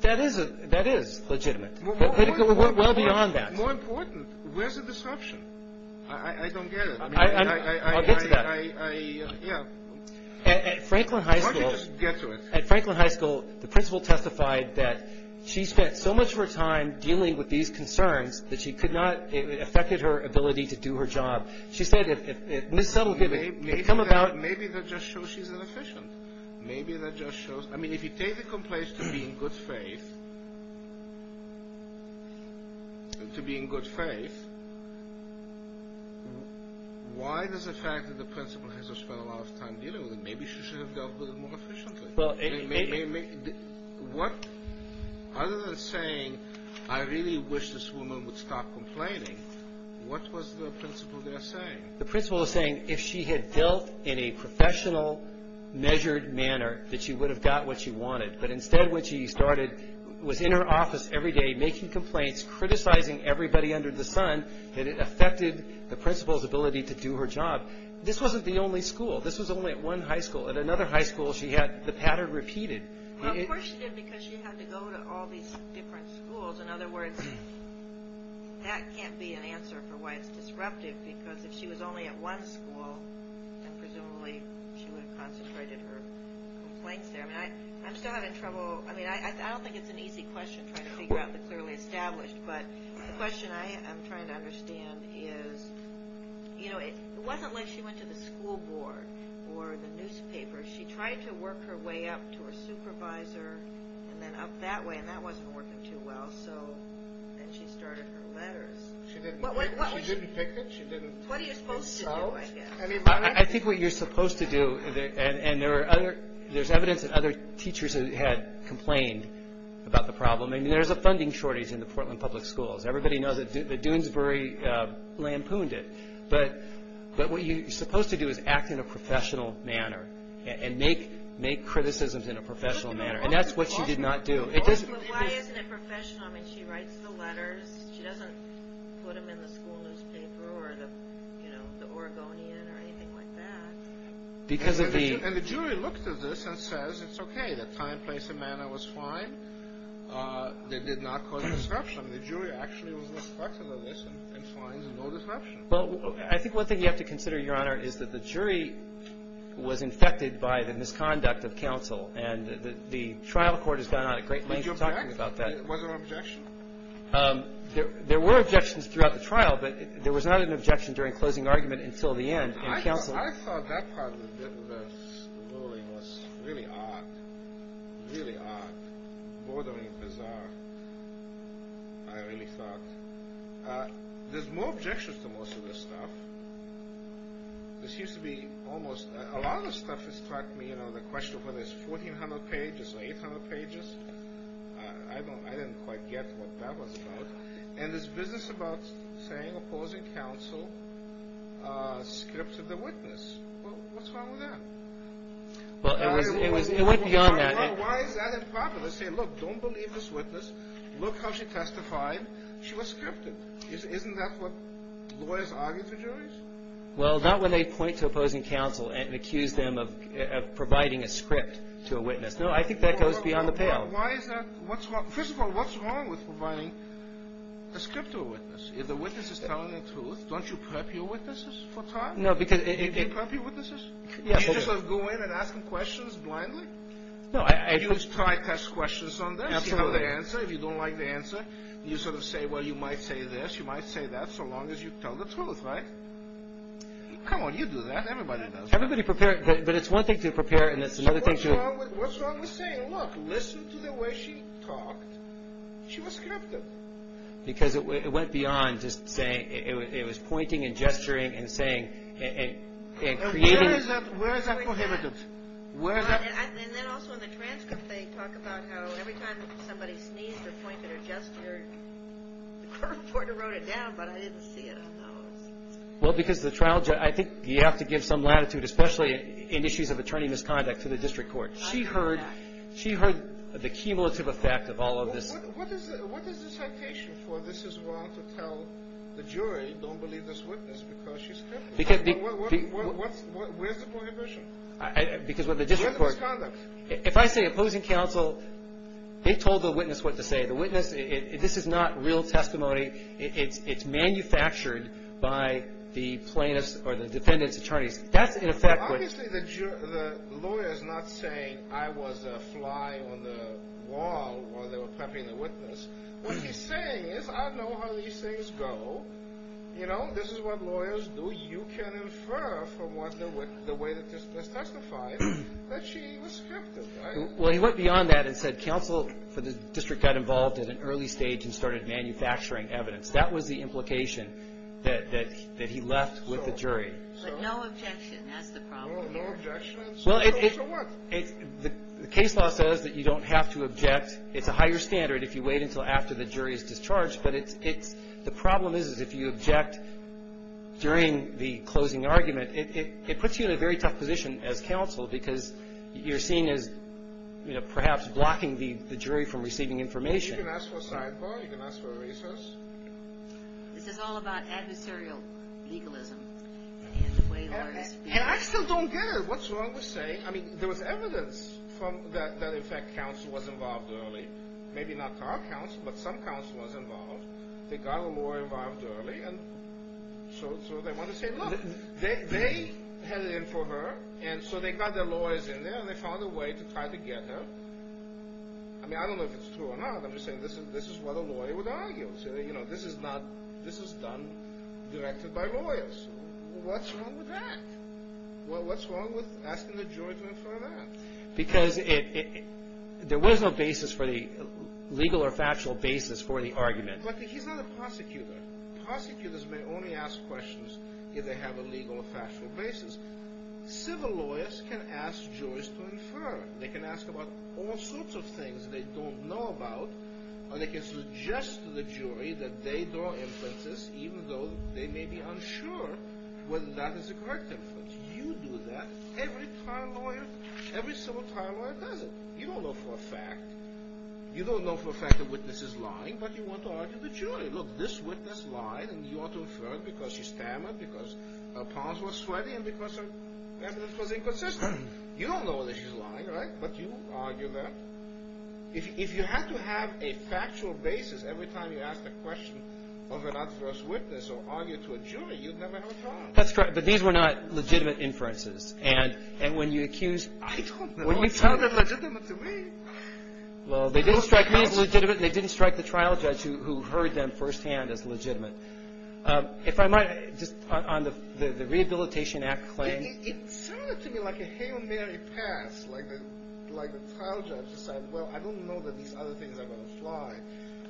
That is legitimate. Well beyond that. More important, where's the disruption? I don't get it. I'll get to that. I – yeah. At Franklin High School – Why don't you just get to it? At Franklin High School, the principal testified that she spent so much of her time dealing with these concerns that she could not – it affected her ability to do her job. She said if – Maybe that just shows she's inefficient. Maybe that just shows – I mean, if you take the complaint to being good faith, to being good faith, why does the fact that the principal has spent a lot of time dealing with it, maybe she should have dealt with it more efficiently? Well, it – What – other than saying I really wish this woman would stop complaining, what was the principal there saying? The principal was saying if she had dealt in a professional, measured manner, that she would have got what she wanted. But instead what she started was in her office every day making complaints, criticizing everybody under the sun, that it affected the principal's ability to do her job. This wasn't the only school. This was only at one high school. At another high school, she had the pattern repeated. Well, of course she did because she had to go to all these different schools. In other words, that can't be an answer for why it's disruptive, because if she was only at one school, then presumably she would have concentrated her complaints there. I'm still having trouble – I mean, I don't think it's an easy question trying to figure out the clearly established, but the question I am trying to understand is, you know, it wasn't like she went to the school board or the newspaper. She tried to work her way up to her supervisor and then up that way, and that wasn't working too well. So then she started her letters. She didn't pick it? She didn't pick it out? What are you supposed to do, I guess? I think what you're supposed to do, and there's evidence that other teachers had complained about the problem. I mean, there's a funding shortage in the Portland Public Schools. Everybody knows that Doonesbury lampooned it, but what you're supposed to do is act in a professional manner and make criticisms in a professional manner, and that's what she did not do. But why isn't it professional? I mean, she writes the letters. She doesn't put them in the school newspaper or the Oregonian or anything like that. And the jury looked at this and says it's okay. The time, place, and manner was fine. They did not cause disruption. The jury actually was respectful of this and finds no disruption. Well, I think one thing you have to consider, Your Honor, is that the jury was infected by the misconduct of counsel, and the trial court has gone on a great length of talking about that. Was there an objection? There were objections throughout the trial, but there was not an objection during closing argument until the end in counsel. I thought that part of the ruling was really odd, really odd, bordering, bizarre, I really thought. There's more objections to most of this stuff. There seems to be almost a lot of stuff that struck me, you know, the question of whether it's 1,400 pages or 800 pages. I didn't quite get what that was about. And this business about saying opposing counsel scripted the witness. Well, what's wrong with that? Well, it went beyond that. Why is that a problem? They say, look, don't believe this witness. Look how she testified. She was scripted. Isn't that what lawyers argue to juries? Well, not when they point to opposing counsel and accuse them of providing a script to a witness. No, I think that goes beyond the pale. Why is that? First of all, what's wrong with providing a script to a witness? If the witness is telling the truth, don't you prep your witnesses for time? Do you prep your witnesses? Do you just sort of go in and ask them questions blindly? No. You try to ask questions on this. You know the answer. If you don't like the answer, you sort of say, well, you might say this. You might say that so long as you tell the truth, right? Come on, you do that. Everybody does that. Everybody prepares. But it's one thing to prepare and it's another thing to. What's wrong with saying, look, I listened to the way she talked. She was scripted. Because it went beyond just saying it was pointing and gesturing and saying and creating. Where is that prohibited? And then also in the transcript they talk about how every time somebody sneezed or pointed or gestured, the court wrote it down, but I didn't see it on those. Well, because the trial judge, I think you have to give some latitude, especially in issues of attorney misconduct to the district court. She heard the cumulative effect of all of this. What is the citation for this as well to tell the jury don't believe this witness because she's scripted? Where's the prohibition? Because with the district court. Where's the misconduct? If I say opposing counsel, they told the witness what to say. The witness, this is not real testimony. It's manufactured by the plaintiffs or the defendant's attorneys. That's in effect what. Obviously the lawyer is not saying I was a fly on the wall while they were prepping the witness. What he's saying is I know how these things go. You know, this is what lawyers do. You can infer from the way that this was testified that she was scripted, right? Well, he went beyond that and said counsel for the district got involved at an early stage and started manufacturing evidence. That was the implication that he left with the jury. But no objection. That's the problem. No objection? So what? The case law says that you don't have to object. It's a higher standard if you wait until after the jury is discharged. But the problem is if you object during the closing argument, it puts you in a very tough position as counsel because you're seen as perhaps blocking the jury from receiving information. You can ask for a sidebar. You can ask for a resource. This is all about adversarial legalism. And I still don't get it. What's wrong with saying, I mean, there was evidence that in fact counsel was involved early. Maybe not our counsel, but some counsel was involved. They got a lawyer involved early, and so they want to say look. They headed in for her, and so they got their lawyers in there, and they found a way to try to get her. I mean, I don't know if it's true or not. I'm just saying this is what a lawyer would argue. This is done directed by lawyers. What's wrong with that? What's wrong with asking the jury to infer that? Because there was no basis for the legal or factual basis for the argument. But he's not a prosecutor. Prosecutors may only ask questions if they have a legal or factual basis. Civil lawyers can ask jurors to infer. They can ask about all sorts of things they don't know about, or they can suggest to the jury that they draw inferences, even though they may be unsure whether that is a correct inference. You do that. Every trial lawyer, every civil trial lawyer does it. You don't know for a fact. You don't know for a fact the witness is lying, but you want to argue the jury. Look, this witness lied, and you ought to infer it because she stammered, because her palms were sweaty, and because her evidence was inconsistent. You don't know that she's lying, right, but you argue that. If you had to have a factual basis every time you asked a question of an adverse witness or argued to a jury, you'd never have a trial. That's correct. But these were not legitimate inferences. And when you accuse – I don't know. It sounded legitimate to me. Well, they didn't strike me as legitimate. They didn't strike the trial judge who heard them firsthand as legitimate. If I might, just on the Rehabilitation Act claim. It sounded to me like a Hail Mary pass, like the trial judge said, well, I don't know that these other things are going to fly,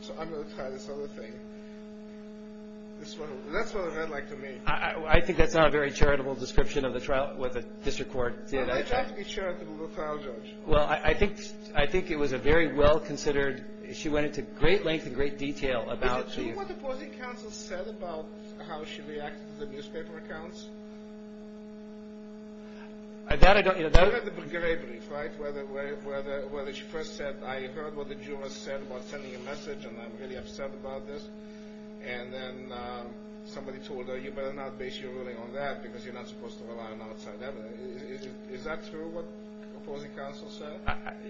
so I'm going to try this other thing. That's what it read like to me. I think that's not a very charitable description of the trial with a district court. It has to be charitable, the trial judge. Well, I think it was a very well-considered – she went into great length and great detail about – Do you know what the opposing counsel said about how she reacted to the newspaper accounts? That I don't – You heard the Breguet brief, right, where she first said, I heard what the jurors said about sending a message and I'm really upset about this. And then somebody told her, you better not base your ruling on that because you're not supposed to rely on outside evidence. Is that true, what the opposing counsel said?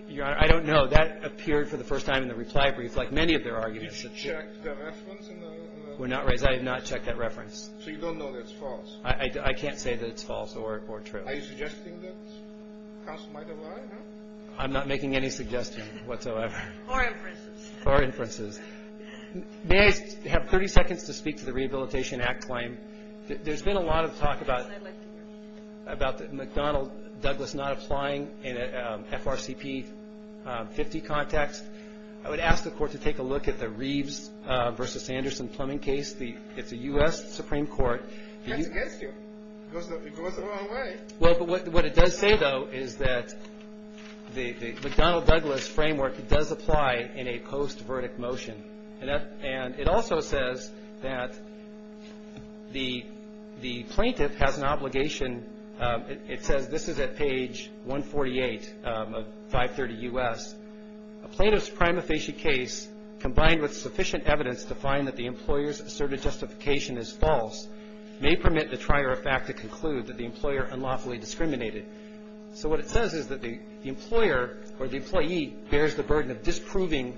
Your Honor, I don't know. That appeared for the first time in the reply brief, like many of their arguments. Did you check the reference? We're not – I did not check that reference. So you don't know that it's false? I can't say that it's false or true. Are you suggesting that counsel might have lied? I'm not making any suggestion whatsoever. Or inferences. Or inferences. May I have 30 seconds to speak to the Rehabilitation Act claim? There's been a lot of talk about McDonnell Douglas not applying in an FRCP 50 context. I would ask the Court to take a look at the Reeves v. Sanderson plumbing case. It's a U.S. Supreme Court. That's against you. It goes a long way. Well, but what it does say, though, is that the McDonnell Douglas framework, it does apply in a post-verdict motion. And it also says that the plaintiff has an obligation. It says this is at page 148 of 530 U.S. A plaintiff's prima facie case, combined with sufficient evidence to find that the employer's asserted justification is false, may permit the trier of fact to conclude that the employer unlawfully discriminated. So what it says is that the employer or the employee bears the burden of disproving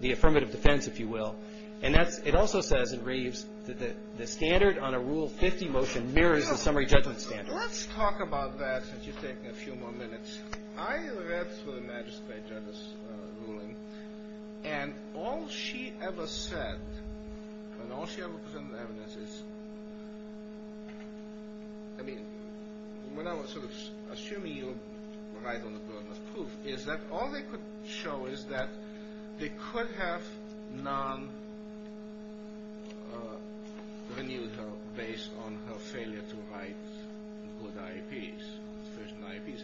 the affirmative defense, if you will. And it also says in Reeves that the standard on a Rule 50 motion mirrors the summary judgment standard. Let's talk about that since you're taking a few more minutes. I read through the magistrate judge's ruling, and all she ever said, and all she ever presented evidence is, I mean, when I was sort of assuming you were right on the burden of proof, is that all they could show is that they could have non-renewed her based on her failure to write good IEPs, sufficient IEPs.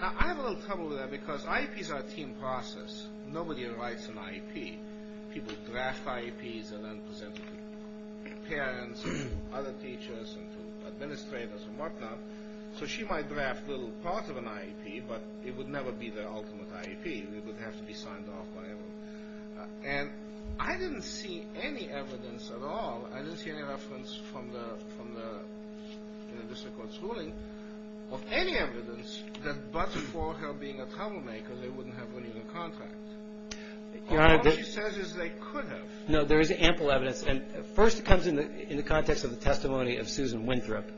Now, I have a little trouble with that because IEPs are a team process. Nobody writes an IEP. People draft IEPs and then present it to parents and to other teachers and to administrators and whatnot. So she might draft a little part of an IEP, but it would never be the ultimate IEP. It would have to be signed off by everyone. And I didn't see any evidence at all. I didn't see any reference from the district court's ruling of any evidence that but for her being a troublemaker, they wouldn't have renewed the contract. All she says is they could have. No, there is ample evidence. And first it comes in the context of the testimony of Susan Winthrop.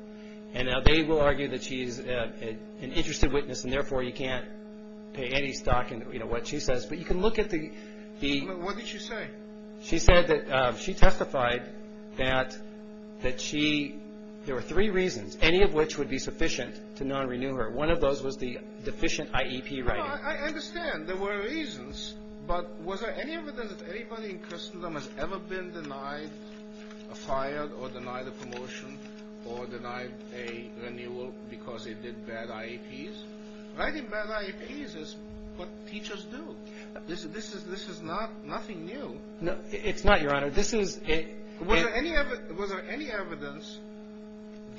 And they will argue that she is an interested witness, and therefore you can't pay any stock in what she says. But you can look at the ‑‑ What did she say? She said that she testified that she ‑‑ there were three reasons, any of which would be sufficient to non‑renew her. One of those was the deficient IEP writing. I understand. There were reasons. But was there any evidence that anybody in Christendom has ever been denied, fired or denied a promotion or denied a renewal because they did bad IEPs? Writing bad IEPs is what teachers do. This is not nothing new. It's not, Your Honor. Was there any evidence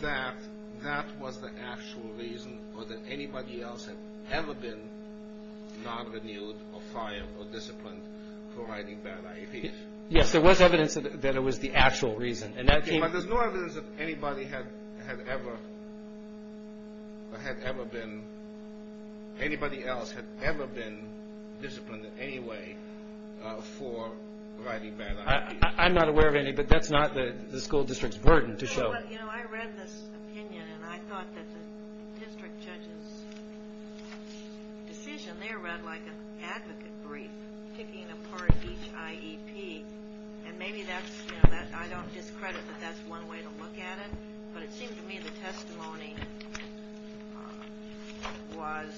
that that was the actual reason or that anybody else had ever been non‑renewed or fired or disciplined for writing bad IEPs? Yes, there was evidence that it was the actual reason. Okay, but there's no evidence that anybody had ever been ‑‑ anybody else had ever been disciplined in any way for writing bad IEPs. I'm not aware of any, but that's not the school district's burden to show. You know, I read this opinion, and I thought that the district judge's decision there read like an advocate brief picking apart each IEP. And maybe that's, you know, I don't discredit that that's one way to look at it, but it seemed to me the testimony was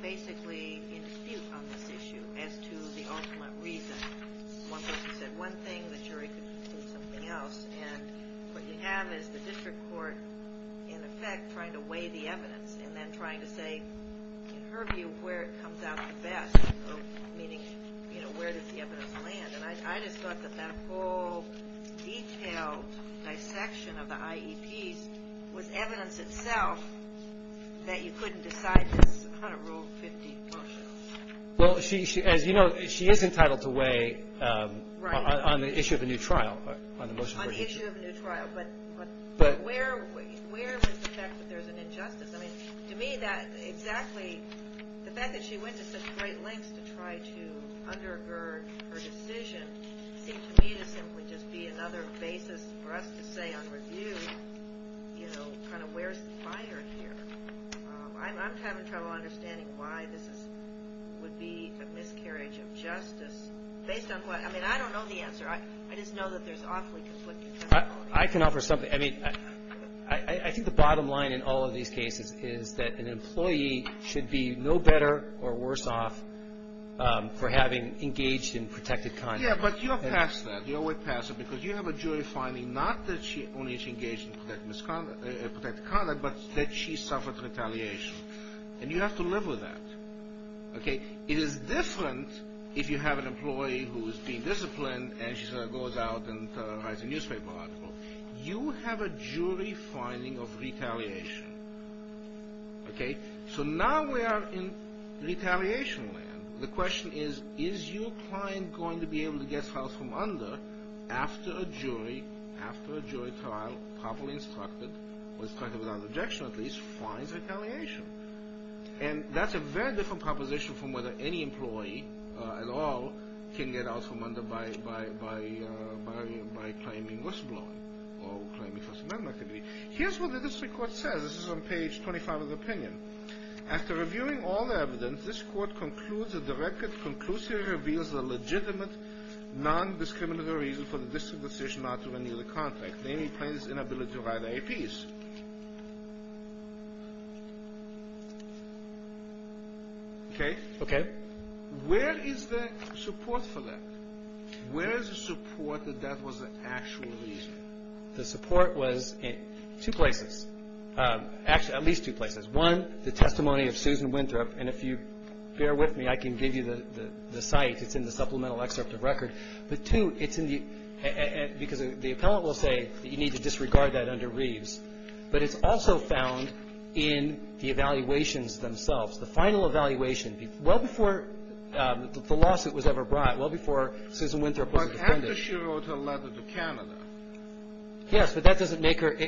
basically in dispute on this issue as to the ultimate reason. One person said one thing, the jury could conclude something else. And what you have is the district court, in effect, trying to weigh the evidence and then trying to say, in her view, where it comes out the best, meaning, you know, where does the evidence land. And I just thought that that whole detailed dissection of the IEPs was evidence itself that you couldn't decide this on a Rule 50 motion. Well, as you know, she is entitled to weigh on the issue of a new trial. On the issue of a new trial. But where was the fact that there's an injustice? I mean, to me, that exactly, the fact that she went to such great lengths to try to undergird her decision seemed to me to simply just be another basis for us to say on review, you know, kind of where's the fire here. I'm having trouble understanding why this would be a miscarriage of justice. Based on what, I mean, I don't know the answer. I just know that there's awfully conflicting testimonies. I can offer something. I mean, I think the bottom line in all of these cases is that an employee should be no better or worse off for having engaged in protected conduct. Yeah, but you're past that. You're way past it because you have a jury finding not that she only engaged in protected conduct, but that she suffered retaliation. And you have to live with that. Okay? It is different if you have an employee who is being disciplined and she goes out and writes a newspaper article. You have a jury finding of retaliation. Okay? So now we are in retaliation land. The question is, is your client going to be able to get out from under after a jury, after a jury trial, properly instructed, or instructed without objection at least, finds retaliation? And that's a very different proposition from whether any employee at all can get out from under by claiming worst blowing or claiming first amendment activity. Here's what the district court says. This is on page 25 of the opinion. After reviewing all the evidence, this court concludes that the record conclusively reveals the legitimate non-discriminatory reason for the district decision not to renew the contract, namely plaintiff's inability to write APs. Okay? Okay. Where is the support for that? Where is the support that that was the actual reason? The support was in two places, at least two places. One, the testimony of Susan Winthrop. And if you bear with me, I can give you the site. It's in the supplemental excerpt of record. But two, it's in the ‑‑ because the appellant will say that you need to disregard that under Reeves. But it's also found in the evaluations themselves, the final evaluation, well before the lawsuit was ever brought, well before Susan Winthrop was a defendant. But after she wrote her letter to Canada. Yes, but that doesn't make her ‑‑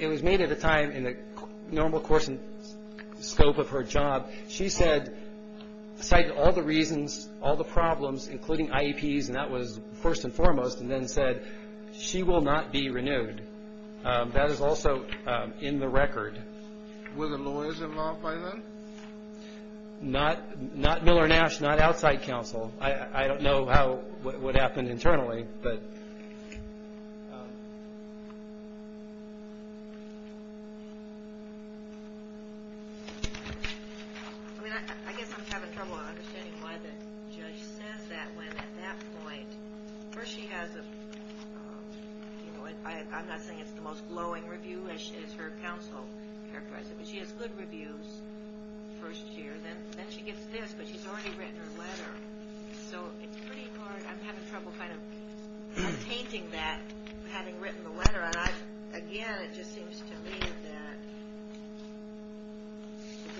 it was made at a time in the normal course and scope of her job. She said, cited all the reasons, all the problems, including IEPs, and that was first and foremost, and then said she will not be renewed. That is also in the record. Were the lawyers involved by then? Not Miller Nash, not outside counsel. I don't know what happened internally, but. I mean, I guess I'm having trouble understanding why the judge says that when at that point, first she has a, you know, I'm not saying it's the most glowing review as her counsel characterized it, but she has good reviews first year, then she gets this, but she's already written her letter. So it's pretty hard. I'm having trouble kind of attaining that, having written the letter. And again, it just seems to me that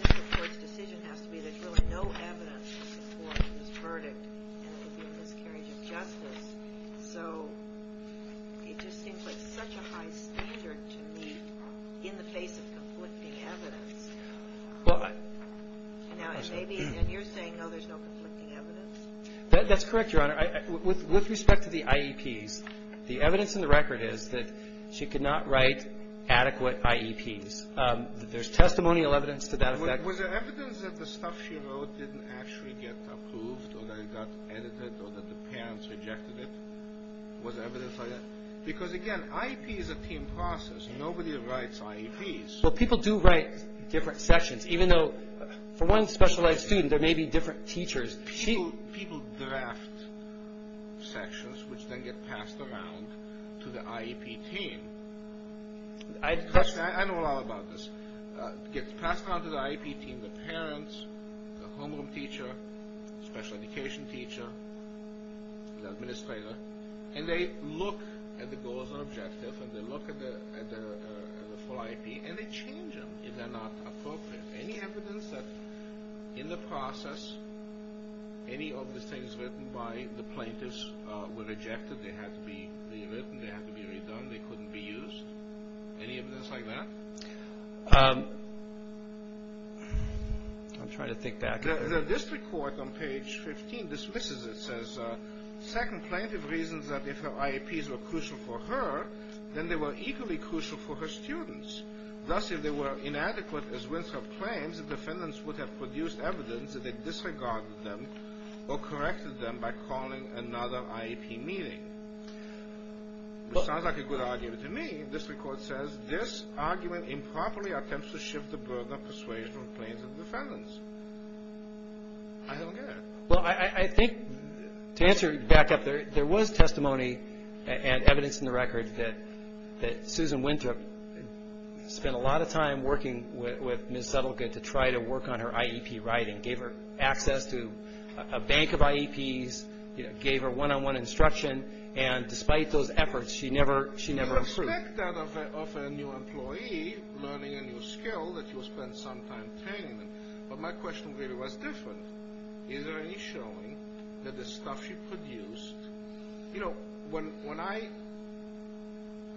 the district court's decision has to be there's really no evidence to support this verdict, and it would be a miscarriage of justice. So it just seems like such a high standard to me in the face of conflicting evidence. And you're saying, no, there's no conflicting evidence. That's correct, Your Honor. With respect to the IEPs, the evidence in the record is that she could not write adequate IEPs. There's testimonial evidence to that effect. Was there evidence that the stuff she wrote didn't actually get approved or that it got edited or that the parents rejected it? Was there evidence like that? Because, again, IEP is a team process. Nobody writes IEPs. Well, people do write different sections, even though for one specialized student, there may be different teachers. People draft sections, which then get passed around to the IEP team. I know a lot about this. It gets passed around to the IEP team, the parents, the homeroom teacher, special education teacher, the administrator, and they look at the goals and objectives and they look at the full IEP and they change them if they're not appropriate. Any evidence that in the process any of the things written by the plaintiffs were rejected, they had to be rewritten, they had to be redone, they couldn't be used? Any evidence like that? I'm trying to think back. The district court on page 15 dismisses it. It says, second, plaintiff reasons that if her IEPs were crucial for her, then they were equally crucial for her students. Thus, if they were inadequate, as Winthrop claims, the defendants would have produced evidence that they disregarded them or corrected them by calling another IEP meeting. It sounds like a good argument to me. The district court says this argument improperly attempts to shift the burden of persuasion on plaintiff defendants. I don't get it. Well, I think to answer back up there, there was testimony and evidence in the record that Susan Winthrop spent a lot of time working with Ms. Suttlegood to try to work on her IEP writing, gave her access to a bank of IEPs, gave her one-on-one instruction, and despite those efforts, she never approved. I expect that of a new employee learning a new skill, that you'll spend some time training them. But my question really was different. Is there any showing that the stuff she produced, you know, when I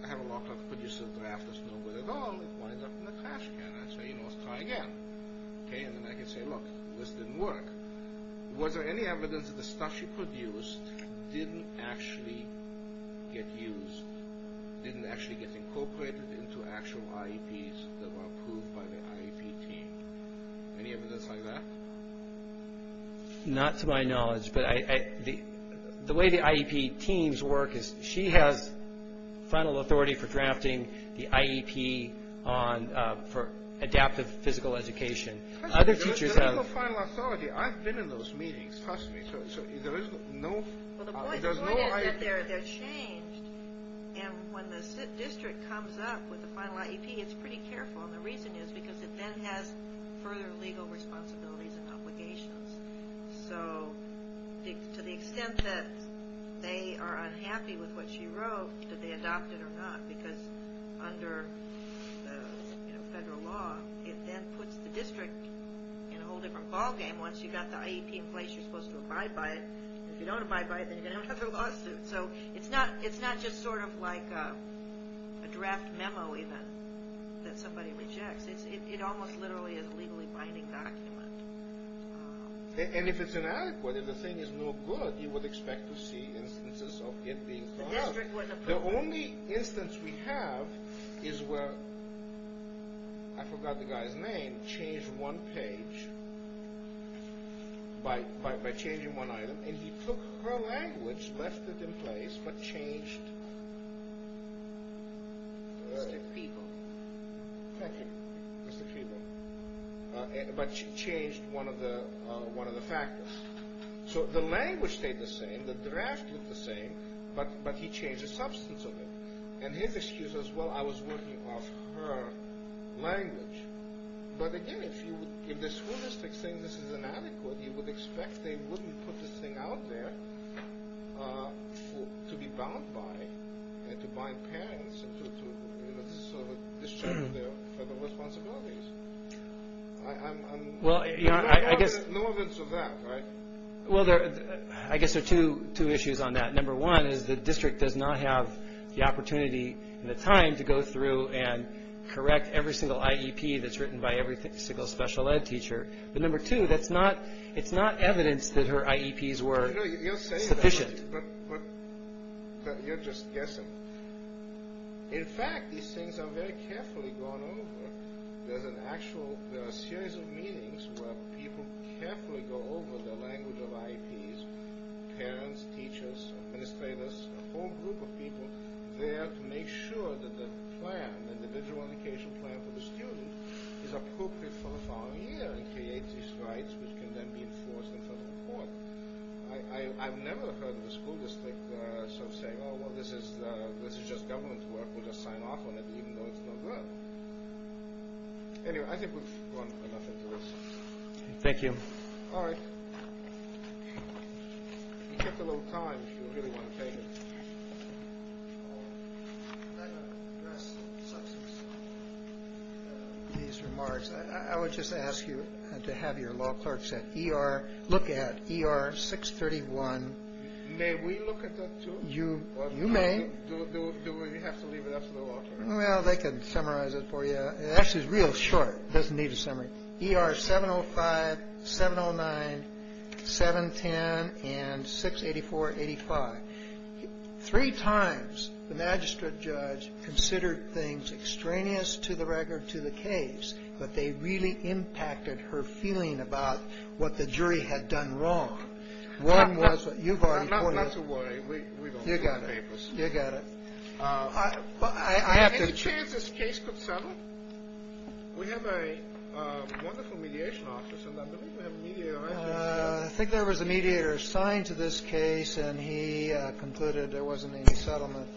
have a law class producer draft that's no good at all, it winds up in the trash can. I say, you know, let's try again. And then I can say, look, this didn't work. Was there any evidence that the stuff she produced didn't actually get used, didn't actually get incorporated into actual IEPs that were approved by the IEP team? Any evidence like that? Not to my knowledge, but the way the IEP teams work is she has final authority for drafting the IEP for adaptive physical education. There is no final authority. I've been in those meetings. Trust me. There is no IEP. Well, the point is that they're changed. And when the district comes up with the final IEP, it's pretty careful. And the reason is because it then has further legal responsibilities and obligations. So to the extent that they are unhappy with what she wrote, did they adopt it or not? Because under federal law, it then puts the district in a whole different ballgame. Once you've got the IEP in place, you're supposed to abide by it. And if you don't abide by it, then you're going to have another lawsuit. So it's not just sort of like a draft memo even that somebody rejects. It almost literally is a legally binding document. And if it's inadequate, if the thing is no good, you would expect to see instances of it being brought up. The only instance we have is where, I forgot the guy's name, changed one page by changing one item. And he took her language, left it in place, but changed one of the factors. So the language stayed the same. The draft looked the same, but he changed the substance of it. And his excuse was, well, I was working off her language. But again, if the school district is saying this is inadequate, you would expect they wouldn't put this thing out there to be bound by and to bind parents and to sort of discharge their responsibilities. No evidence of that, right? Well, I guess there are two issues on that. Number one is the district does not have the opportunity and the time to go through and correct every single IEP that's written by every single special ed teacher. But number two, it's not evidence that her IEPs were sufficient. But you're just guessing. In fact, these things are very carefully gone over. There are a series of meetings where people carefully go over the language of IEPs, parents, teachers, administrators, a whole group of people, there to make sure that the plan, the individual education plan for the student, is appropriate for the following year and creates these rights, which can then be enforced in federal court. I've never heard the school district sort of say, well, this is just government work. We'll just sign off on it even though it's not good. Anyway, I think we've gone enough into this. Thank you. All right. You kept a little time if you really want to pay me. I'm not going to address the substance of these remarks. I would just ask you to have your law clerks at ER look at ER 631. May we look at that, too? You may. Do we have to leave it up to the law clerk? Well, they can summarize it for you. It's actually real short. It doesn't need a summary. ER 705, 709, 710, and 684-85. Three times the magistrate judge considered things extraneous to the record to the case, but they really impacted her feeling about what the jury had done wrong. One was that you've already pointed out. Not to worry. You got it. You got it. Any chance this case could settle? We have a wonderful mediation office in London. We have a mediator. I think there was a mediator assigned to this case, and he concluded there wasn't any settlement.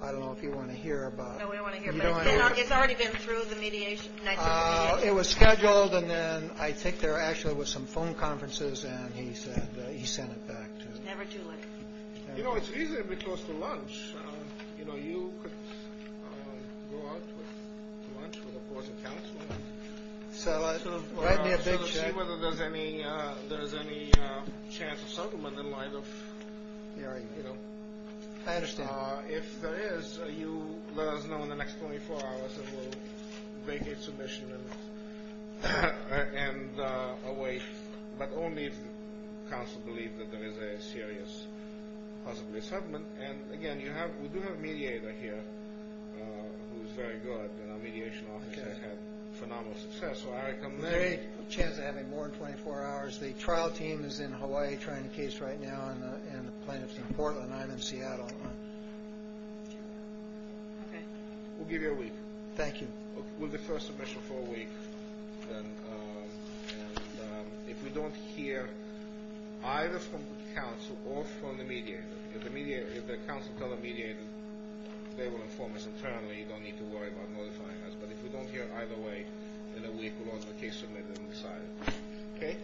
I don't know if you want to hear about it. No, we don't want to hear about it. It's already been through the mediation. It was scheduled, and then I think there actually was some phone conferences, and he said he sent it back to us. Never too late. You know, it's reasonably close to lunch. You know, you could go out to lunch with, of course, a counselor and sort of see whether there's any chance of settlement in light of, you know. I understand. If there is, you let us know in the next 24 hours, and we'll vacate submission and await. But only if counsel believes that there is a serious, possibly, settlement. And, again, we do have a mediator here who is very good, and our mediation office has had phenomenal success. So I recommend. There's a chance of having more than 24 hours. The trial team is in Hawaii trying the case right now, and the plaintiff's in Portland. I'm in Seattle. Okay. We'll give you a week. Thank you. We'll defer submission for a week, and if we don't hear either from counsel or from the mediator, if the counsel tells the mediator they will inform us internally, you don't need to worry about notifying us. But if we don't hear either way in a week, we'll order the case submitted and decided. Okay.